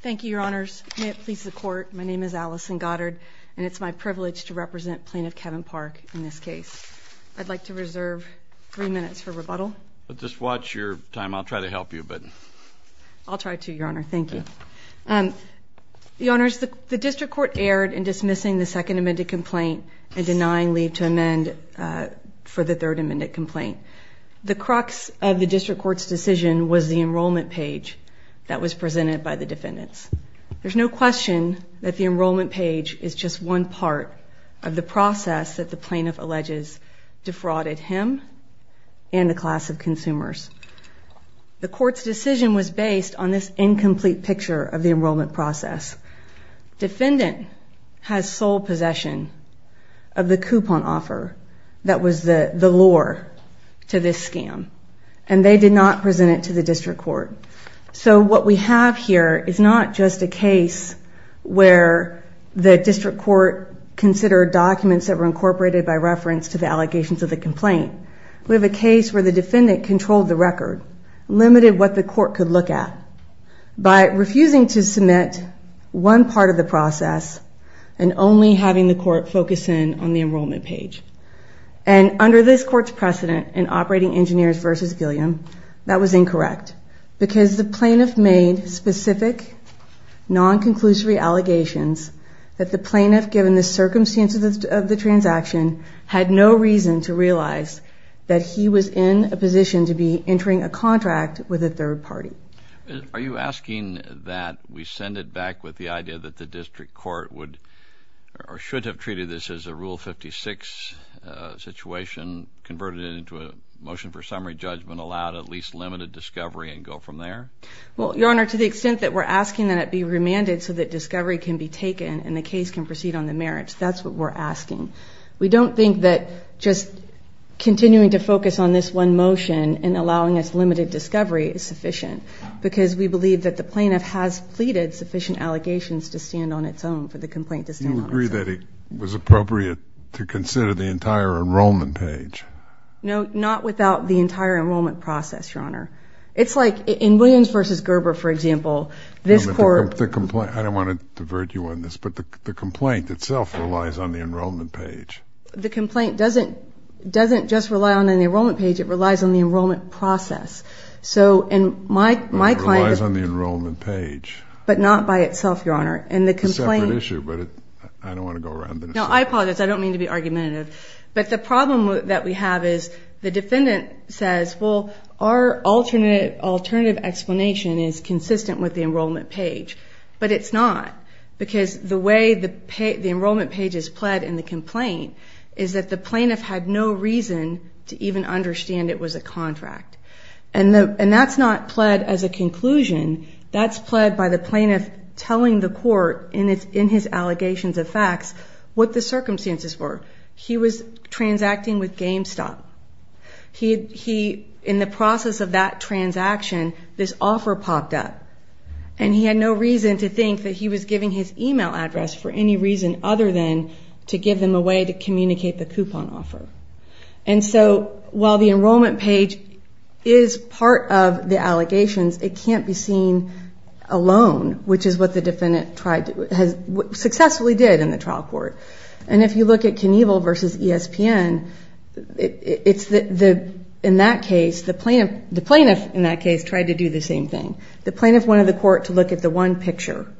Thank you, Your Honors. May it please the Court, my name is Allison Goddard, and it's my privilege to represent Plaintiff Kevin Park in this case. I'd like to reserve three minutes for rebuttal. Just watch your time. I'll try to help you a bit. I'll try to, Your Honor. Thank you. Your Honors, the District Court erred in dismissing the second amended complaint and denying leave to amend for the third amended complaint. The crux of the District Court's decision was the enrollment page that was presented by the defendants. There's no question that the enrollment page is just one part of the process that the plaintiff alleges defrauded him and the class of consumers. The Court's decision was based on this incomplete picture of the enrollment process. Defendant has sole possession of the coupon offer that was the lure to this scam, and they did not present it to the District Court. So what we have here is not just a case where the District Court considered documents that were incorporated by reference to the allegations of the complaint. We have a case where the defendant controlled the record, limited what the Court could look at. By refusing to submit one part of the process and only having the Court focus in on the enrollment page. And under this Court's precedent in Operating Engineers v. Gilliam, that was incorrect. Because the plaintiff made specific non-conclusory allegations that the plaintiff, given the circumstances of the transaction, had no reason to realize that he was in a position to be entering a contract with a third party. Are you asking that we send it back with the idea that the District Court would or should have treated this as a Rule 56 situation, converted it into a motion for summary judgment, allowed at least limited discovery, and go from there? Well, Your Honor, to the extent that we're asking that it be remanded so that discovery can be taken and the case can proceed on the merits, that's what we're asking. We don't think that just continuing to focus on this one motion and allowing us limited discovery is sufficient. Because we believe that the plaintiff has pleaded sufficient allegations to stand on its own for the complaint to stand on its own. You agree that it was appropriate to consider the entire enrollment page? No, not without the entire enrollment process, Your Honor. It's like in Williams v. Gerber, for example, this Court... I don't want to divert you on this, but the complaint itself relies on the enrollment page. The complaint doesn't just rely on the enrollment page, it relies on the enrollment process. It relies on the enrollment page. But not by itself, Your Honor. It's a separate issue, but I don't want to go around this. No, I apologize. I don't mean to be argumentative. But the problem that we have is the defendant says, well, our alternative explanation is consistent with the enrollment page. But it's not. Because the way the enrollment page is pled in the complaint is that the plaintiff had no reason to even understand it was a contract. And that's not pled as a conclusion. That's pled by the plaintiff telling the Court in his allegations of facts what the circumstances were. He was transacting with GameStop. In the process of that transaction, this offer popped up. And he had no reason to think that he was giving his email address for any reason other than to give them a way to communicate the coupon offer. And so while the enrollment page is part of the allegations, it can't be seen alone, which is what the defendant successfully did in the trial court. And if you look at Knievel v. ESPN, in that case, the plaintiff in that case tried to do the same thing. The plaintiff wanted the Court to look at the one picture,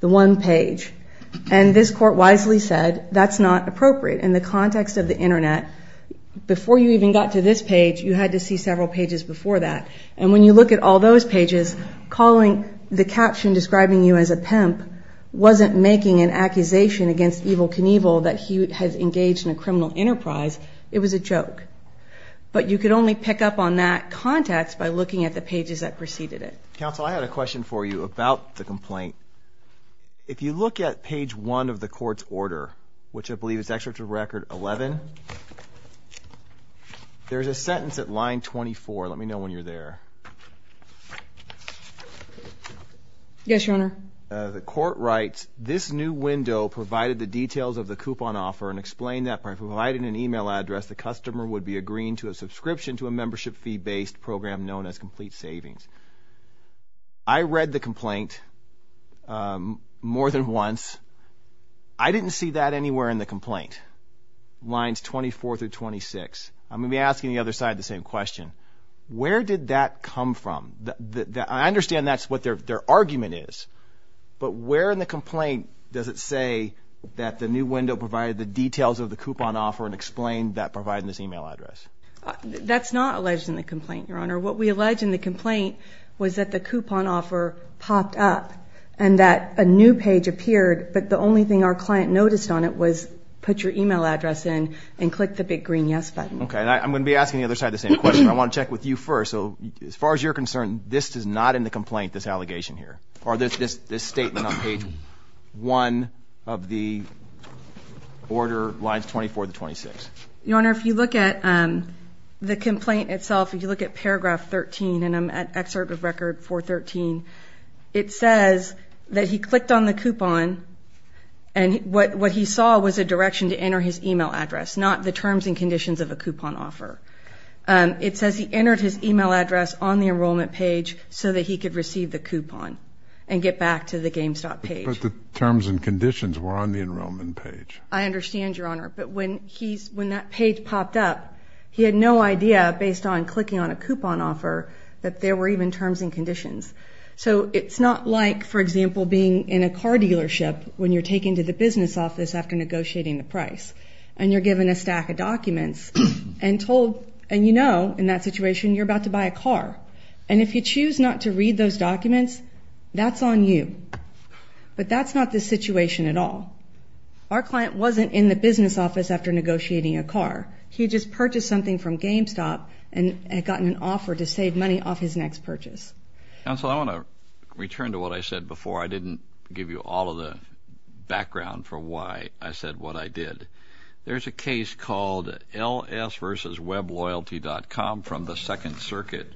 the one page. And this Court wisely said that's not appropriate in the context of the Internet. Before you even got to this page, you had to see several pages before that. And when you look at all those pages, the caption describing you as a pimp wasn't making an accusation against Evel Knievel that he has engaged in a criminal enterprise. It was a joke. But you could only pick up on that context by looking at the pages that preceded it. Counsel, I had a question for you about the complaint. If you look at page one of the Court's order, which I believe is excerpt of record 11, there's a sentence at line 24. Let me know when you're there. Yes, Your Honor. The Court writes, this new window provided the details of the coupon offer and explained that by providing an email address, the customer would be agreeing to a subscription to a membership fee-based program known as Complete Savings. I read the complaint more than once. I didn't see that anywhere in the complaint, lines 24 through 26. I'm going to be asking the other side the same question. Where did that come from? I understand that's what their argument is. But where in the complaint does it say that the new window provided the details of the coupon offer and explained that by providing this email address? That's not alleged in the complaint, Your Honor. What we allege in the complaint was that the coupon offer popped up and that a new page appeared, but the only thing our client noticed on it was put your email address in and click the big green yes button. Okay, and I'm going to be asking the other side the same question. I want to check with you first. So as far as you're concerned, this is not in the complaint, this allegation here, or this statement on page one of the order lines 24 to 26? Your Honor, if you look at the complaint itself, if you look at paragraph 13, and I'm at excerpt of record 413, it says that he clicked on the coupon and what he saw was a direction to enter his email address, not the terms and conditions of a coupon offer. It says he entered his email address on the enrollment page so that he could receive the coupon and get back to the GameStop page. But the terms and conditions were on the enrollment page. I understand, Your Honor, but when that page popped up, he had no idea, based on clicking on a coupon offer, that there were even terms and conditions. So it's not like, for example, being in a car dealership when you're taken to the business office after negotiating the price and you're given a stack of documents and you know in that situation you're about to buy a car. And if you choose not to read those documents, that's on you. But that's not the situation at all. Our client wasn't in the business office after negotiating a car. He just purchased something from GameStop and had gotten an offer to save money off his next purchase. Counsel, I want to return to what I said before. I didn't give you all of the background for why I said what I did. There's a case called LS versus WebLoyalty.com from the Second Circuit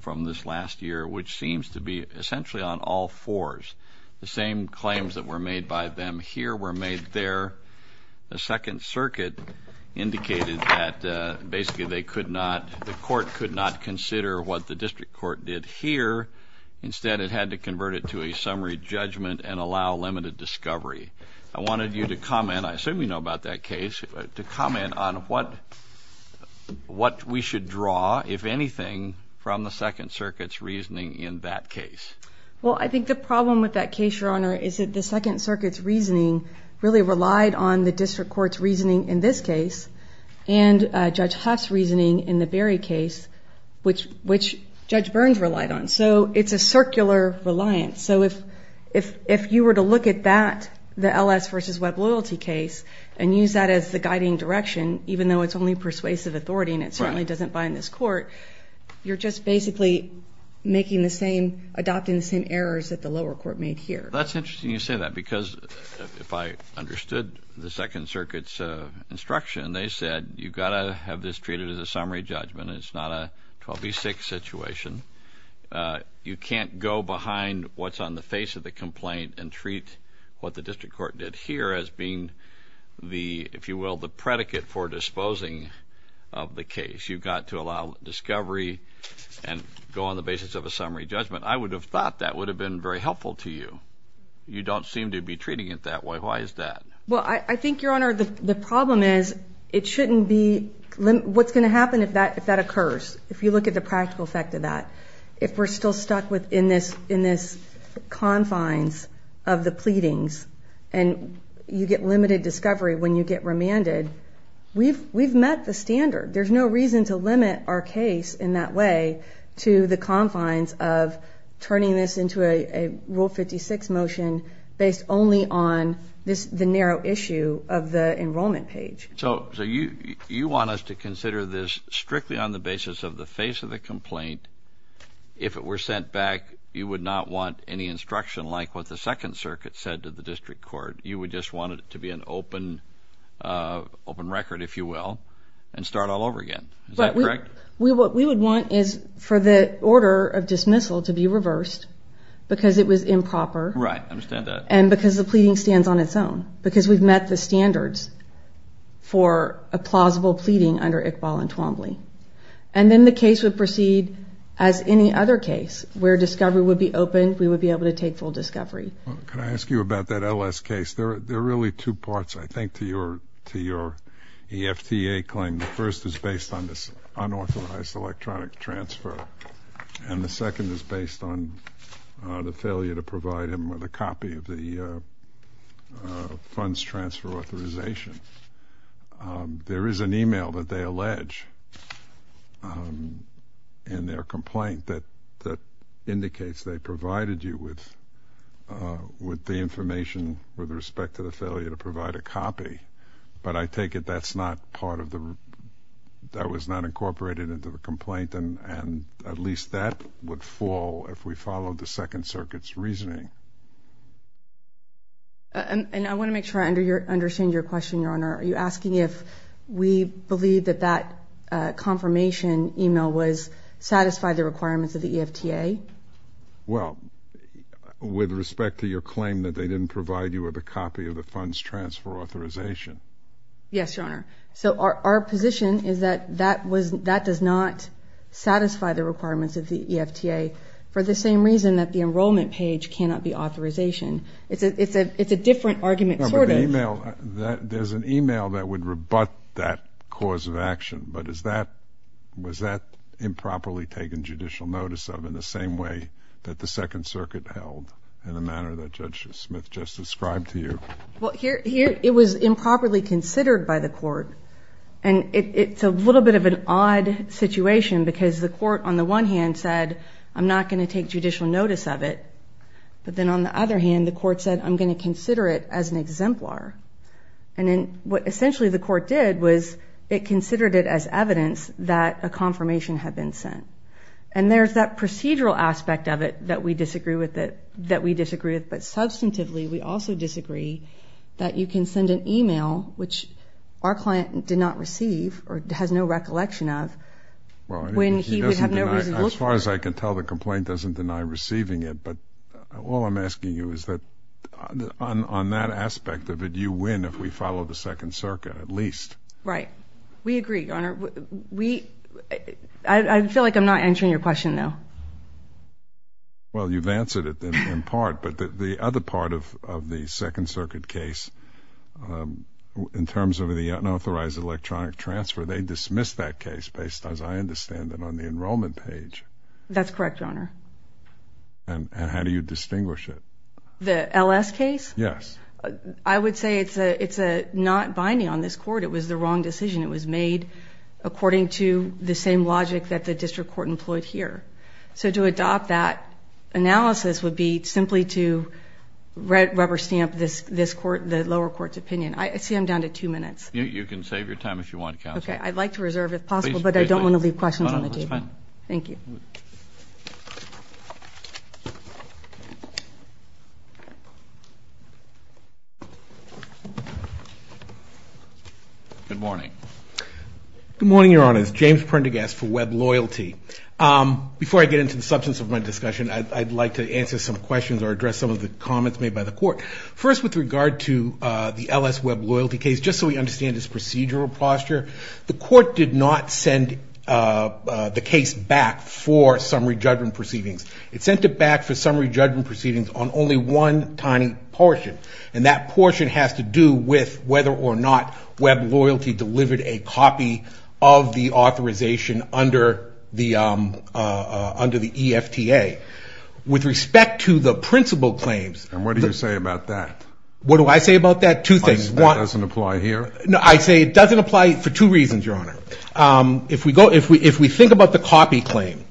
from this last year, which seems to be essentially on all fours. The same claims that were made by them here were made there. The Second Circuit indicated that basically they could not, the court could not consider what the district court did here. Instead, it had to convert it to a summary judgment and allow limited discovery. I wanted you to comment, I assume you know about that case, to comment on what we should draw, if anything, from the Second Circuit's reasoning in that case. Well, I think the problem with that case, Your Honor, is that the Second Circuit's reasoning really relied on the district court's reasoning in this case and Judge Huff's reasoning in the Berry case, which Judge Burns relied on. So it's a circular reliance. So if you were to look at that, the LS versus WebLoyalty case, and use that as the guiding direction, even though it's only persuasive authority and it certainly doesn't bind this court, you're just basically making the same, adopting the same errors that the lower court made here. That's interesting you say that, because if I understood the Second Circuit's instruction, they said you've got to have this treated as a summary judgment. It's not a 12 v. 6 situation. You can't go behind what's on the face of the complaint and treat what the district court did here as being the, if you will, the predicate for disposing of the case. You've got to allow discovery and go on the basis of a summary judgment. I would have thought that would have been very helpful to you. You don't seem to be treating it that way. Why is that? Well, I think, Your Honor, the problem is it shouldn't be, what's going to happen if that occurs? If you look at the practical effect of that, if we're still stuck in this confines of the pleadings and you get limited discovery when you get remanded, we've met the standard. There's no reason to limit our case in that way to the confines of turning this into a Rule 56 motion based only on the narrow issue of the enrollment page. So you want us to consider this strictly on the basis of the face of the complaint. If it were sent back, you would not want any instruction like what the Second Circuit said to the district court. You would just want it to be an open record, if you will, and start all over again. Is that correct? What we would want is for the order of dismissal to be reversed because it was improper. Right, I understand that. And because the pleading stands on its own, because we've met the standards for a plausible pleading under Iqbal and Twombly. And then the case would proceed as any other case where discovery would be open, we would be able to take full discovery. Can I ask you about that LS case? There are really two parts, I think, to your EFTA claim. The first is based on this unauthorized electronic transfer, and the second is based on the failure to provide him with a copy of the funds transfer authorization. There is an email that they allege in their complaint that indicates they provided you with the information with respect to the failure to provide a copy. But I take it that was not incorporated into the complaint, and at least that would fall if we followed the Second Circuit's reasoning. And I want to make sure I understand your question, Your Honor. Are you asking if we believe that that confirmation email satisfied the requirements of the EFTA? Well, with respect to your claim that they didn't provide you with a copy of the funds transfer authorization. Yes, Your Honor. So our position is that that does not satisfy the requirements of the EFTA, for the same reason that the enrollment page cannot be authorization. It's a different argument, sort of. There's an email that would rebut that cause of action, but was that improperly taken judicial notice of in the same way that the Second Circuit held, in the manner that Judge Smith just described to you? Well, it was improperly considered by the court, and it's a little bit of an odd situation because the court on the one hand said, I'm not going to take judicial notice of it. But then on the other hand, the court said, I'm going to consider it as an exemplar. And then what essentially the court did was it considered it as evidence that a confirmation had been sent. And there's that procedural aspect of it that we disagree with, but substantively we also disagree that you can send an email, which our client did not receive or has no recollection of, when he would have no reason to look for it. As far as I can tell, the complaint doesn't deny receiving it. But all I'm asking you is that on that aspect of it, you win if we follow the Second Circuit, at least. Right. We agree, Your Honor. I feel like I'm not answering your question, though. Well, you've answered it in part. But the other part of the Second Circuit case, in terms of the unauthorized electronic transfer, they dismissed that case based, as I understand it, on the enrollment page. That's correct, Your Honor. And how do you distinguish it? The L.S. case? Yes. I would say it's not binding on this court. It was the wrong decision. It was made according to the same logic that the district court employed here. So to adopt that analysis would be simply to rubber stamp the lower court's opinion. I see I'm down to two minutes. You can save your time if you want, Counsel. Okay. I'd like to reserve, if possible, but I don't want to leave questions on the table. No, that's fine. Thank you. Good morning. Good morning, Your Honors. James Prendergast for Web Loyalty. Before I get into the substance of my discussion, I'd like to answer some questions or address some of the comments made by the court. First, with regard to the L.S. Web Loyalty case, just so we understand its procedural posture, the court did not send the case back for summary judgment proceedings. It sent it back for summary judgment proceedings on only one tiny portion, and that portion has to do with whether or not Web Loyalty delivered a copy of the authorization under the EFTA. With respect to the principal claims. And what do you say about that? What do I say about that? Two things. That doesn't apply here? I say it doesn't apply for two reasons, Your Honor. If we think about the copy claim,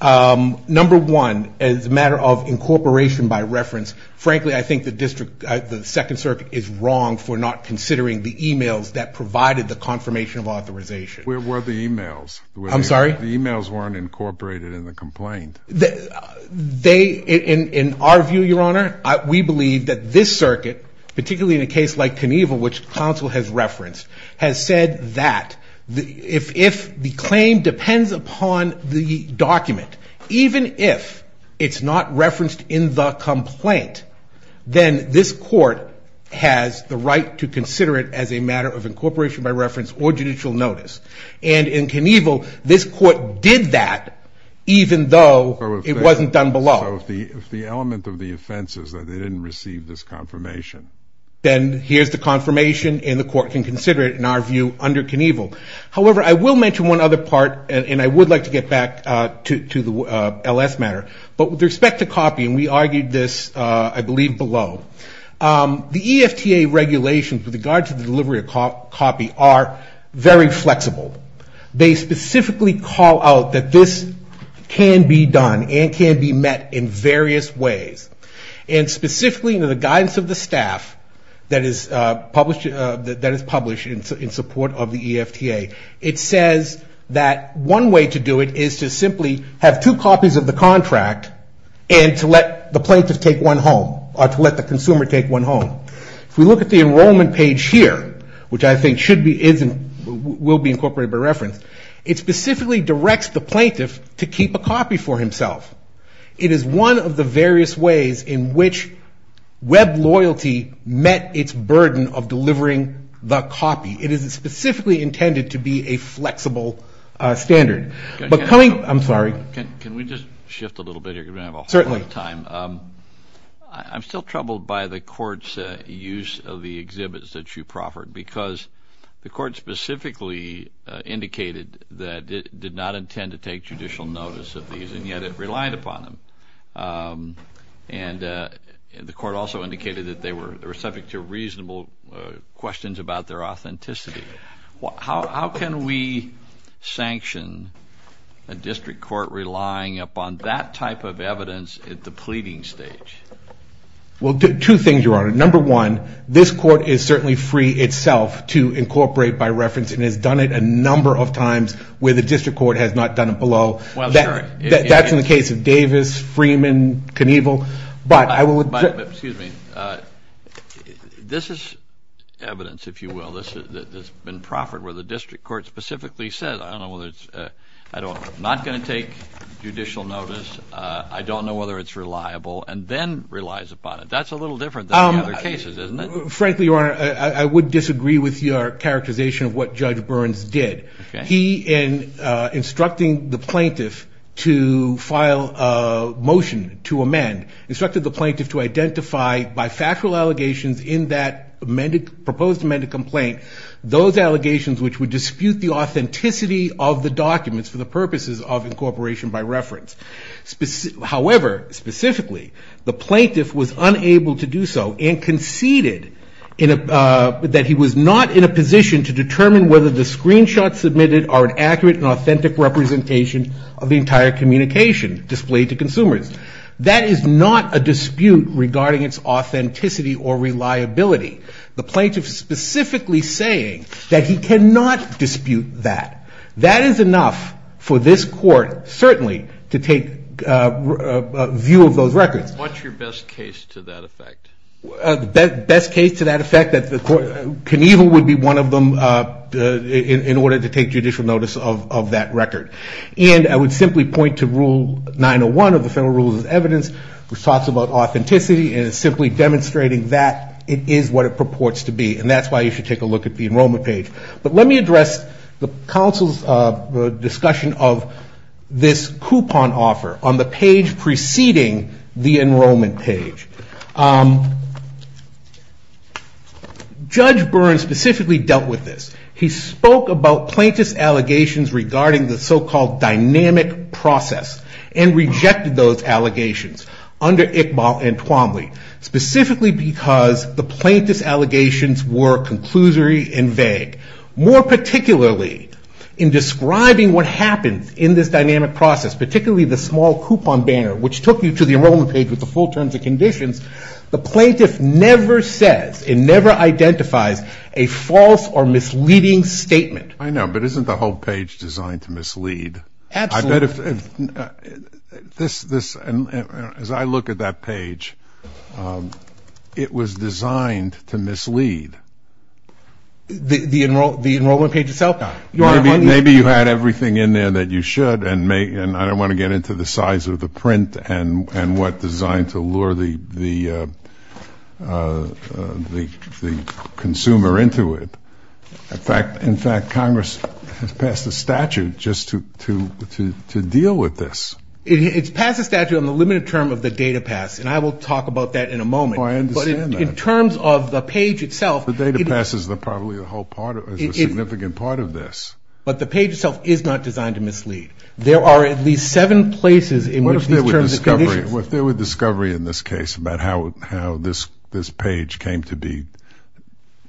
number one, as a matter of incorporation by reference, frankly, I think the Second Circuit is wrong for not considering the e-mails that provided the confirmation of authorization. Where were the e-mails? I'm sorry? The e-mails weren't incorporated in the complaint. In our view, Your Honor, we believe that this circuit, particularly in a case like Knievel, which counsel has referenced, has said that if the claim depends upon the document, even if it's not referenced in the complaint, then this court has the right to consider it as a matter of incorporation by reference or judicial notice. And in Knievel, this court did that, even though it wasn't done below. So if the element of the offense is that they didn't receive this confirmation. Then here's the confirmation, and the court can consider it, in our view, under Knievel. However, I will mention one other part, and I would like to get back to the LS matter. But with respect to copy, and we argued this, I believe, below. The EFTA regulations with regard to the delivery of copy are very flexible. They specifically call out that this can be done and can be met in various ways. And specifically in the guidance of the staff that is published in support of the EFTA, it says that one way to do it is to simply have two copies of the contract and to let the plaintiff take one home, or to let the consumer take one home. If we look at the enrollment page here, which I think will be incorporated by reference, it specifically directs the plaintiff to keep a copy for himself. It is one of the various ways in which web loyalty met its burden of delivering the copy. It is specifically intended to be a flexible standard. I'm sorry. Can we just shift a little bit here because we don't have a whole lot of time? Certainly. I'm still troubled by the court's use of the exhibits that you proffered, because the court specifically indicated that it did not intend to take judicial notice of these, and yet it relied upon them. And the court also indicated that they were subject to reasonable questions about their authenticity. How can we sanction a district court relying upon that type of evidence at the pleading stage? Well, two things, Your Honor. Number one, this court is certainly free itself to incorporate by reference and has done it a number of times where the district court has not done it below. Well, sure. That's in the case of Davis, Freeman, Knievel. Excuse me. This is evidence, if you will, that's been proffered where the district court specifically says, I'm not going to take judicial notice, I don't know whether it's reliable, and then relies upon it. That's a little different than the other cases, isn't it? Frankly, Your Honor, I would disagree with your characterization of what Judge Burns did. Okay. He, in instructing the plaintiff to file a motion to amend, instructed the plaintiff to identify by factual allegations in that proposed amended complaint, those allegations which would dispute the authenticity of the documents for the purposes of incorporation by reference. However, specifically, the plaintiff was unable to do so and conceded that he was not in a position to determine whether the screenshots submitted are an accurate and authentic representation of the entire communication displayed to consumers. That is not a dispute regarding its authenticity or reliability. The plaintiff is specifically saying that he cannot dispute that. That is enough for this court, certainly, to take view of those records. What's your best case to that effect? The best case to that effect, that Knievel would be one of them in order to take judicial notice of that record. And I would simply point to Rule 901 of the Federal Rules of Evidence, which talks about authenticity, and is simply demonstrating that it is what it purports to be. And that's why you should take a look at the enrollment page. But let me address the counsel's discussion of this coupon offer on the page preceding the enrollment page. Judge Byrne specifically dealt with this. He spoke about plaintiff's allegations regarding the so-called dynamic process and rejected those allegations under Iqbal and Twombly, specifically because the plaintiff's allegations were conclusory and vague. More particularly, in describing what happens in this dynamic process, particularly the small coupon banner, which took you to the enrollment page with the full terms and conditions, the plaintiff never says and never identifies a false or misleading statement. I know, but isn't the whole page designed to mislead? Absolutely. As I look at that page, it was designed to mislead. The enrollment page itself not? Maybe you had everything in there that you should, and I don't want to get into the size of the print and what designed to lure the consumer into it. In fact, Congress has passed a statute just to deal with this. It's passed a statute on the limited term of the data pass, and I will talk about that in a moment. Oh, I understand that. But in terms of the page itself. The data pass is probably a significant part of this. But the page itself is not designed to mislead. There are at least seven places in which these terms and conditions. If there were discovery in this case about how this page came to be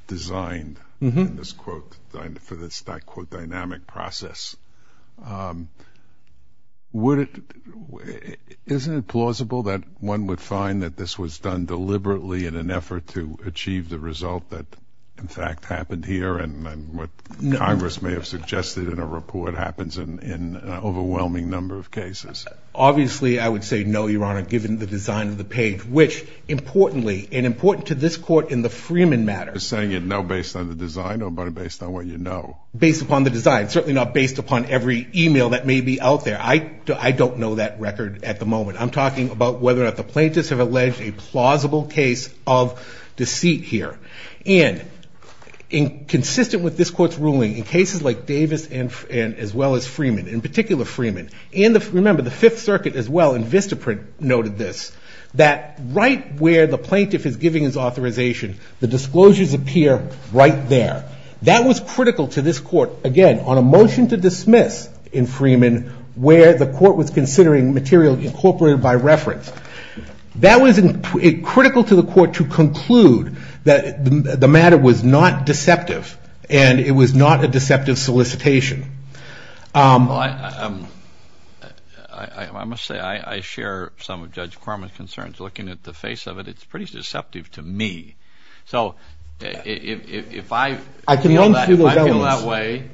designed for this dynamic process, isn't it plausible that one would find that this was done deliberately in an effort to achieve the result that in fact happened here and what Congress may have suggested in a report happens in an overwhelming number of cases? Obviously, I would say no, Your Honor, given the design of the page, which importantly and important to this court in the Freeman matter. You're saying it now based on the design or based on what you know? Based upon the design. Certainly not based upon every email that may be out there. I don't know that record at the moment. I'm talking about whether or not the plaintiffs have alleged a plausible case of deceit here. And consistent with this court's ruling, in cases like Davis and as well as Freeman, in particular Freeman, and remember the Fifth Circuit as well in Vistaprint noted this, that right where the plaintiff is giving his authorization, the disclosures appear right there. That was critical to this court, again, on a motion to dismiss in Freeman where the court was considering material incorporated by reference. That was critical to the court to conclude that the matter was not deceptive and it was not a deceptive solicitation. I must say I share some of Judge Quarman's concerns. Looking at the face of it, it's pretty deceptive to me. So if I feel that way,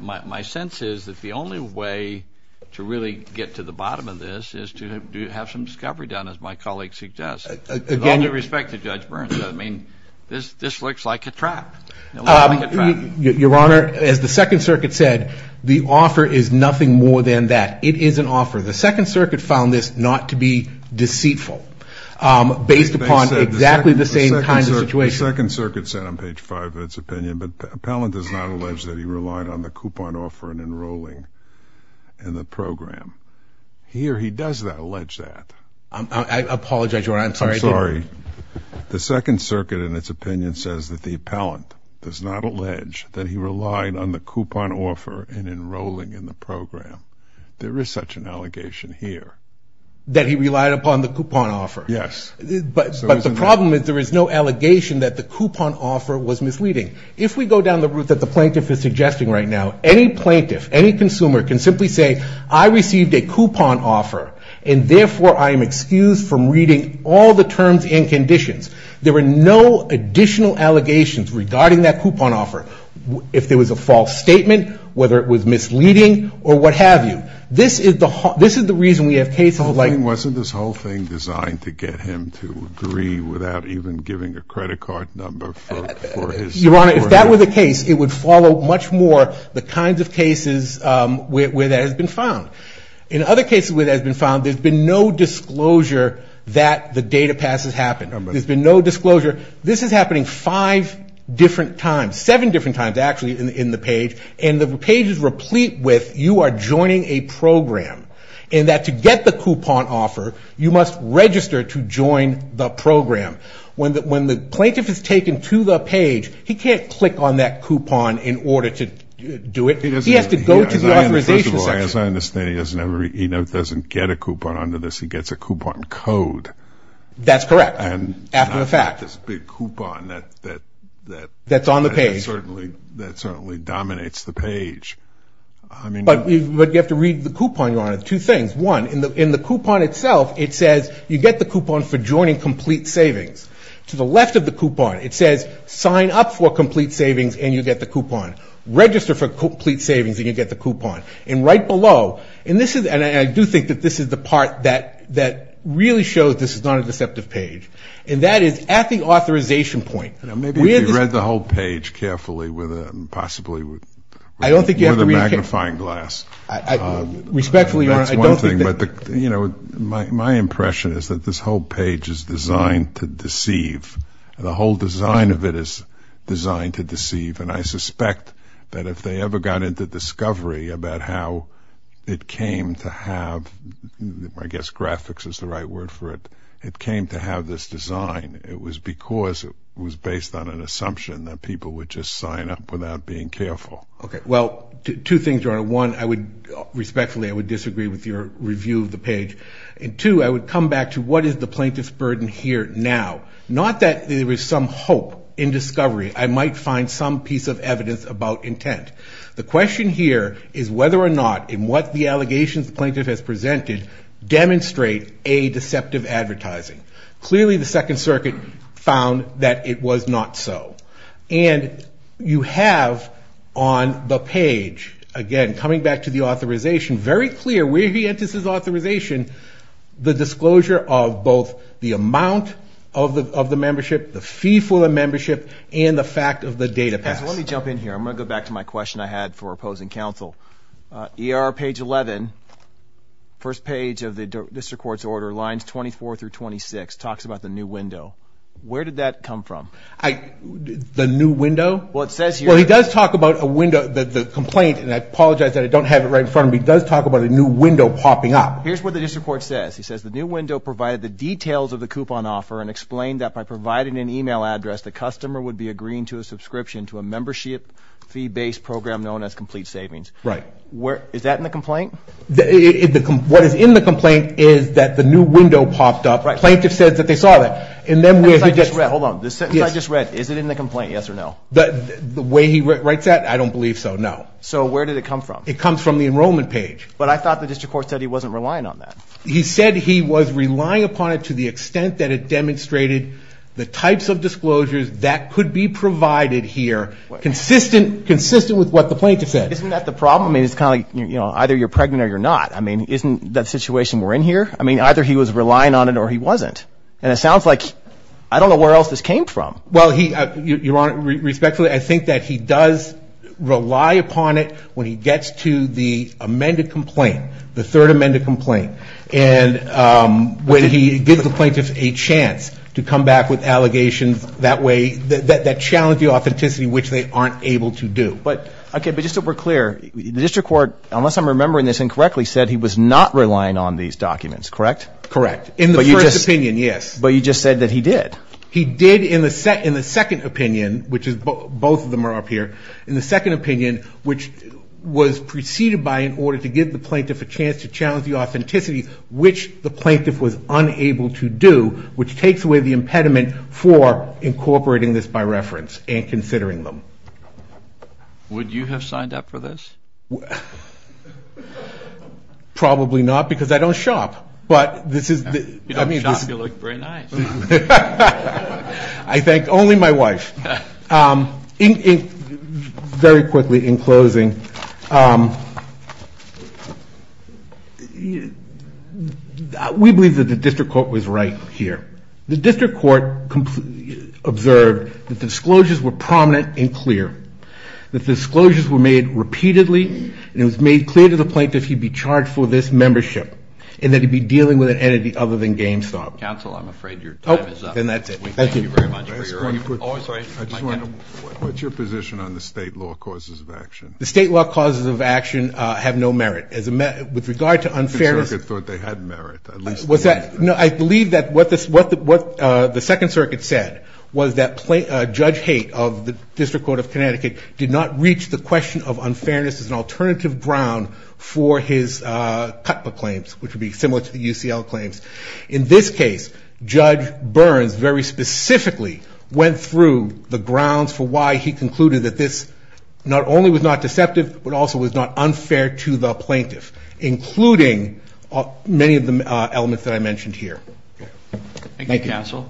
my sense is that the only way to really get to the bottom of this is to have some discovery done, as my colleague suggests. With all due respect to Judge Burns, this looks like a trap. Your Honor, as the Second Circuit said, the offer is nothing more than that. It is an offer. The Second Circuit found this not to be deceitful based upon exactly the same kind of situation. The Second Circuit said on page five of its opinion, but Pellant does not allege that he relied on the coupon offer in enrolling in the program. He or he does not allege that. I apologize, Your Honor. I'm sorry. I'm sorry. The Second Circuit in its opinion says that the appellant does not allege that he relied on the coupon offer in enrolling in the program. There is such an allegation here. That he relied upon the coupon offer. Yes. But the problem is there is no allegation that the coupon offer was misleading. If we go down the route that the plaintiff is suggesting right now, any plaintiff, any consumer can simply say, I received a coupon offer and therefore I am excused from reading all the terms and conditions. There were no additional allegations regarding that coupon offer. If there was a false statement, whether it was misleading or what have you. This is the reason we have cases like. Wasn't this whole thing designed to get him to agree without even giving a credit card number for his. Your Honor, if that were the case, it would follow much more the kinds of cases where that has been found. In other cases where that has been found, there's been no disclosure that the data pass has happened. There's been no disclosure. This is happening five different times, seven different times actually in the page. And the page is replete with you are joining a program. And that to get the coupon offer, you must register to join the program. When the plaintiff is taken to the page, he can't click on that coupon in order to do it. He has to go to the authorization section. First of all, as I understand, he doesn't get a coupon under this. He gets a coupon code. That's correct. After the fact. It's not this big coupon that. That's on the page. That certainly dominates the page. But you have to read the coupon, Your Honor, two things. One, in the coupon itself, it says you get the coupon for joining Complete Savings. To the left of the coupon, it says sign up for Complete Savings and you get the coupon. Register for Complete Savings and you get the coupon. And right below, and I do think that this is the part that really shows this is not a deceptive page, and that is at the authorization point. Maybe if you read the whole page carefully with a possibly magnifying glass. Respectfully, Your Honor, I don't think that. My impression is that this whole page is designed to deceive. The whole design of it is designed to deceive, and I suspect that if they ever got into discovery about how it came to have, I guess graphics is the right word for it, it came to have this design, it was because it was based on an assumption that people would just sign up without being careful. Okay, well, two things, Your Honor. One, respectfully, I would disagree with your review of the page. And two, I would come back to what is the plaintiff's burden here now. Not that there is some hope in discovery. I might find some piece of evidence about intent. The question here is whether or not, in what the allegations the plaintiff has presented, demonstrate a deceptive advertising. Clearly, the Second Circuit found that it was not so. And you have on the page, again, coming back to the authorization, very clear where he enters his authorization, the disclosure of both the amount of the membership, the fee for the membership, and the fact of the data pass. Let me jump in here. I'm going to go back to my question I had for opposing counsel. ER page 11, first page of the district court's order, lines 24 through 26, talks about the new window. Where did that come from? The new window? Well, it says here. Well, he does talk about a window. The complaint, and I apologize that I don't have it right in front of me, does talk about a new window popping up. Here's what the district court says. It says the new window provided the details of the coupon offer and explained that by providing an email address, the customer would be agreeing to a subscription to a membership fee-based program known as complete savings. Right. Is that in the complaint? What is in the complaint is that the new window popped up. Plaintiff says that they saw that. Hold on. The sentence I just read, is it in the complaint, yes or no? The way he writes that, I don't believe so, no. So where did it come from? It comes from the enrollment page. But I thought the district court said he wasn't relying on that. He said he was relying upon it to the extent that it demonstrated the types of disclosures that could be provided here consistent with what the plaintiff said. Isn't that the problem? It's kind of like either you're pregnant or you're not. Isn't that the situation we're in here? Either he was relying on it or he wasn't. And it sounds like I don't know where else this came from. Well, Your Honor, respectfully, I think that he does rely upon it when he gets to the amended complaint, the third amended complaint, and when he gives the plaintiff a chance to come back with allegations that way, that challenge the authenticity, which they aren't able to do. Okay. But just so we're clear, the district court, unless I'm remembering this incorrectly, said he was not relying on these documents, correct? Correct. In the first opinion, yes. But you just said that he did. He did in the second opinion, which is both of them are up here, in the second opinion, which was preceded by in order to give the plaintiff a chance to challenge the authenticity, which the plaintiff was unable to do, which takes away the impediment for incorporating this by reference and considering them. Would you have signed up for this? Probably not, because I don't shop. You don't shop. You look very nice. I thank only my wife. Very quickly, in closing, we believe that the district court was right here. The district court observed that the disclosures were prominent and clear, that the disclosures were made repeatedly, and it was made clear to the plaintiff he'd be charged for this membership and that he'd be dealing with an entity other than GameStop. Counsel, I'm afraid your time is up. Oh, then that's it. Thank you very much. Oh, sorry. What's your position on the state law causes of action? The state law causes of action have no merit. With regard to unfairness. The circuit thought they had merit, at least. I believe that what the Second Circuit said was that Judge Haight of the District Court of Connecticut did not reach the question of unfairness as an alternative ground for his CUTPA claims, which would be similar to the UCL claims. In this case, Judge Burns very specifically went through the grounds for why he concluded that this not only was not deceptive, but also was not unfair to the plaintiff, including many of the elements that I mentioned here. Thank you, Counsel.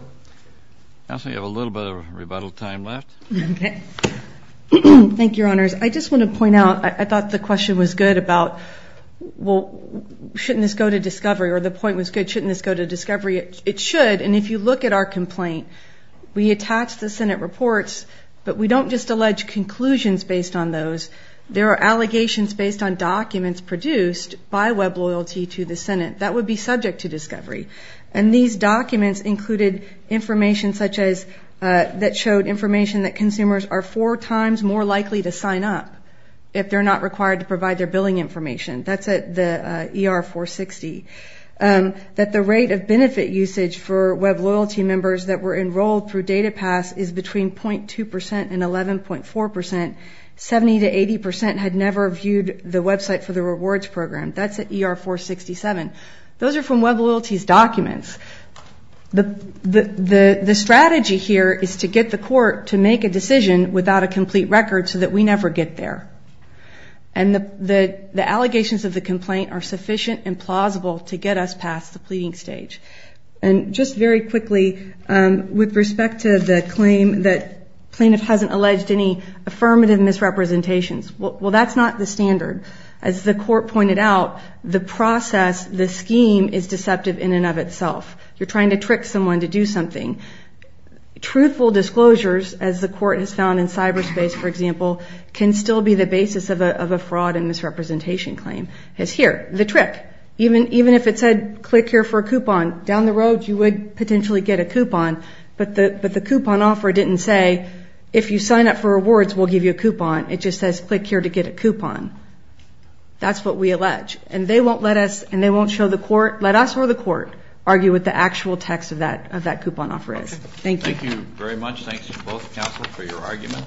Counsel, you have a little bit of rebuttal time left. Okay. Thank you, Your Honors. I just want to point out, I thought the question was good about, well, shouldn't this go to discovery? Or the point was good, shouldn't this go to discovery? It should. And if you look at our complaint, we attach the Senate reports, but we don't just allege conclusions based on those. There are allegations based on documents produced by WebLoyalty to the Senate that would be subject to discovery. And these documents included information that showed information that consumers are four times more likely to sign up if they're not required to provide their billing information. That's at the ER-460. That the rate of benefit usage for WebLoyalty members that were enrolled through DataPass is between .2% and 11.4%. 70% to 80% had never viewed the website for the rewards program. That's at ER-467. Those are from WebLoyalty's documents. The strategy here is to get the court to make a decision without a complete record so that we never get there. And the allegations of the complaint are sufficient and plausible to get us past the pleading stage. And just very quickly, with respect to the claim that plaintiff hasn't alleged any affirmative misrepresentations, well, that's not the standard. As the court pointed out, the process, the scheme, is deceptive in and of itself. You're trying to trick someone to do something. Truthful disclosures, as the court has found in cyberspace, for example, can still be the basis of a fraud and misrepresentation claim. The trick, even if it said, click here for a coupon, down the road you would potentially get a coupon, but the coupon offer didn't say, if you sign up for rewards, we'll give you a coupon. It just says, click here to get a coupon. That's what we allege. And they won't let us or the court argue what the actual text of that coupon offer is. Thank you. Thank you very much. Thanks to both counsels for your argument.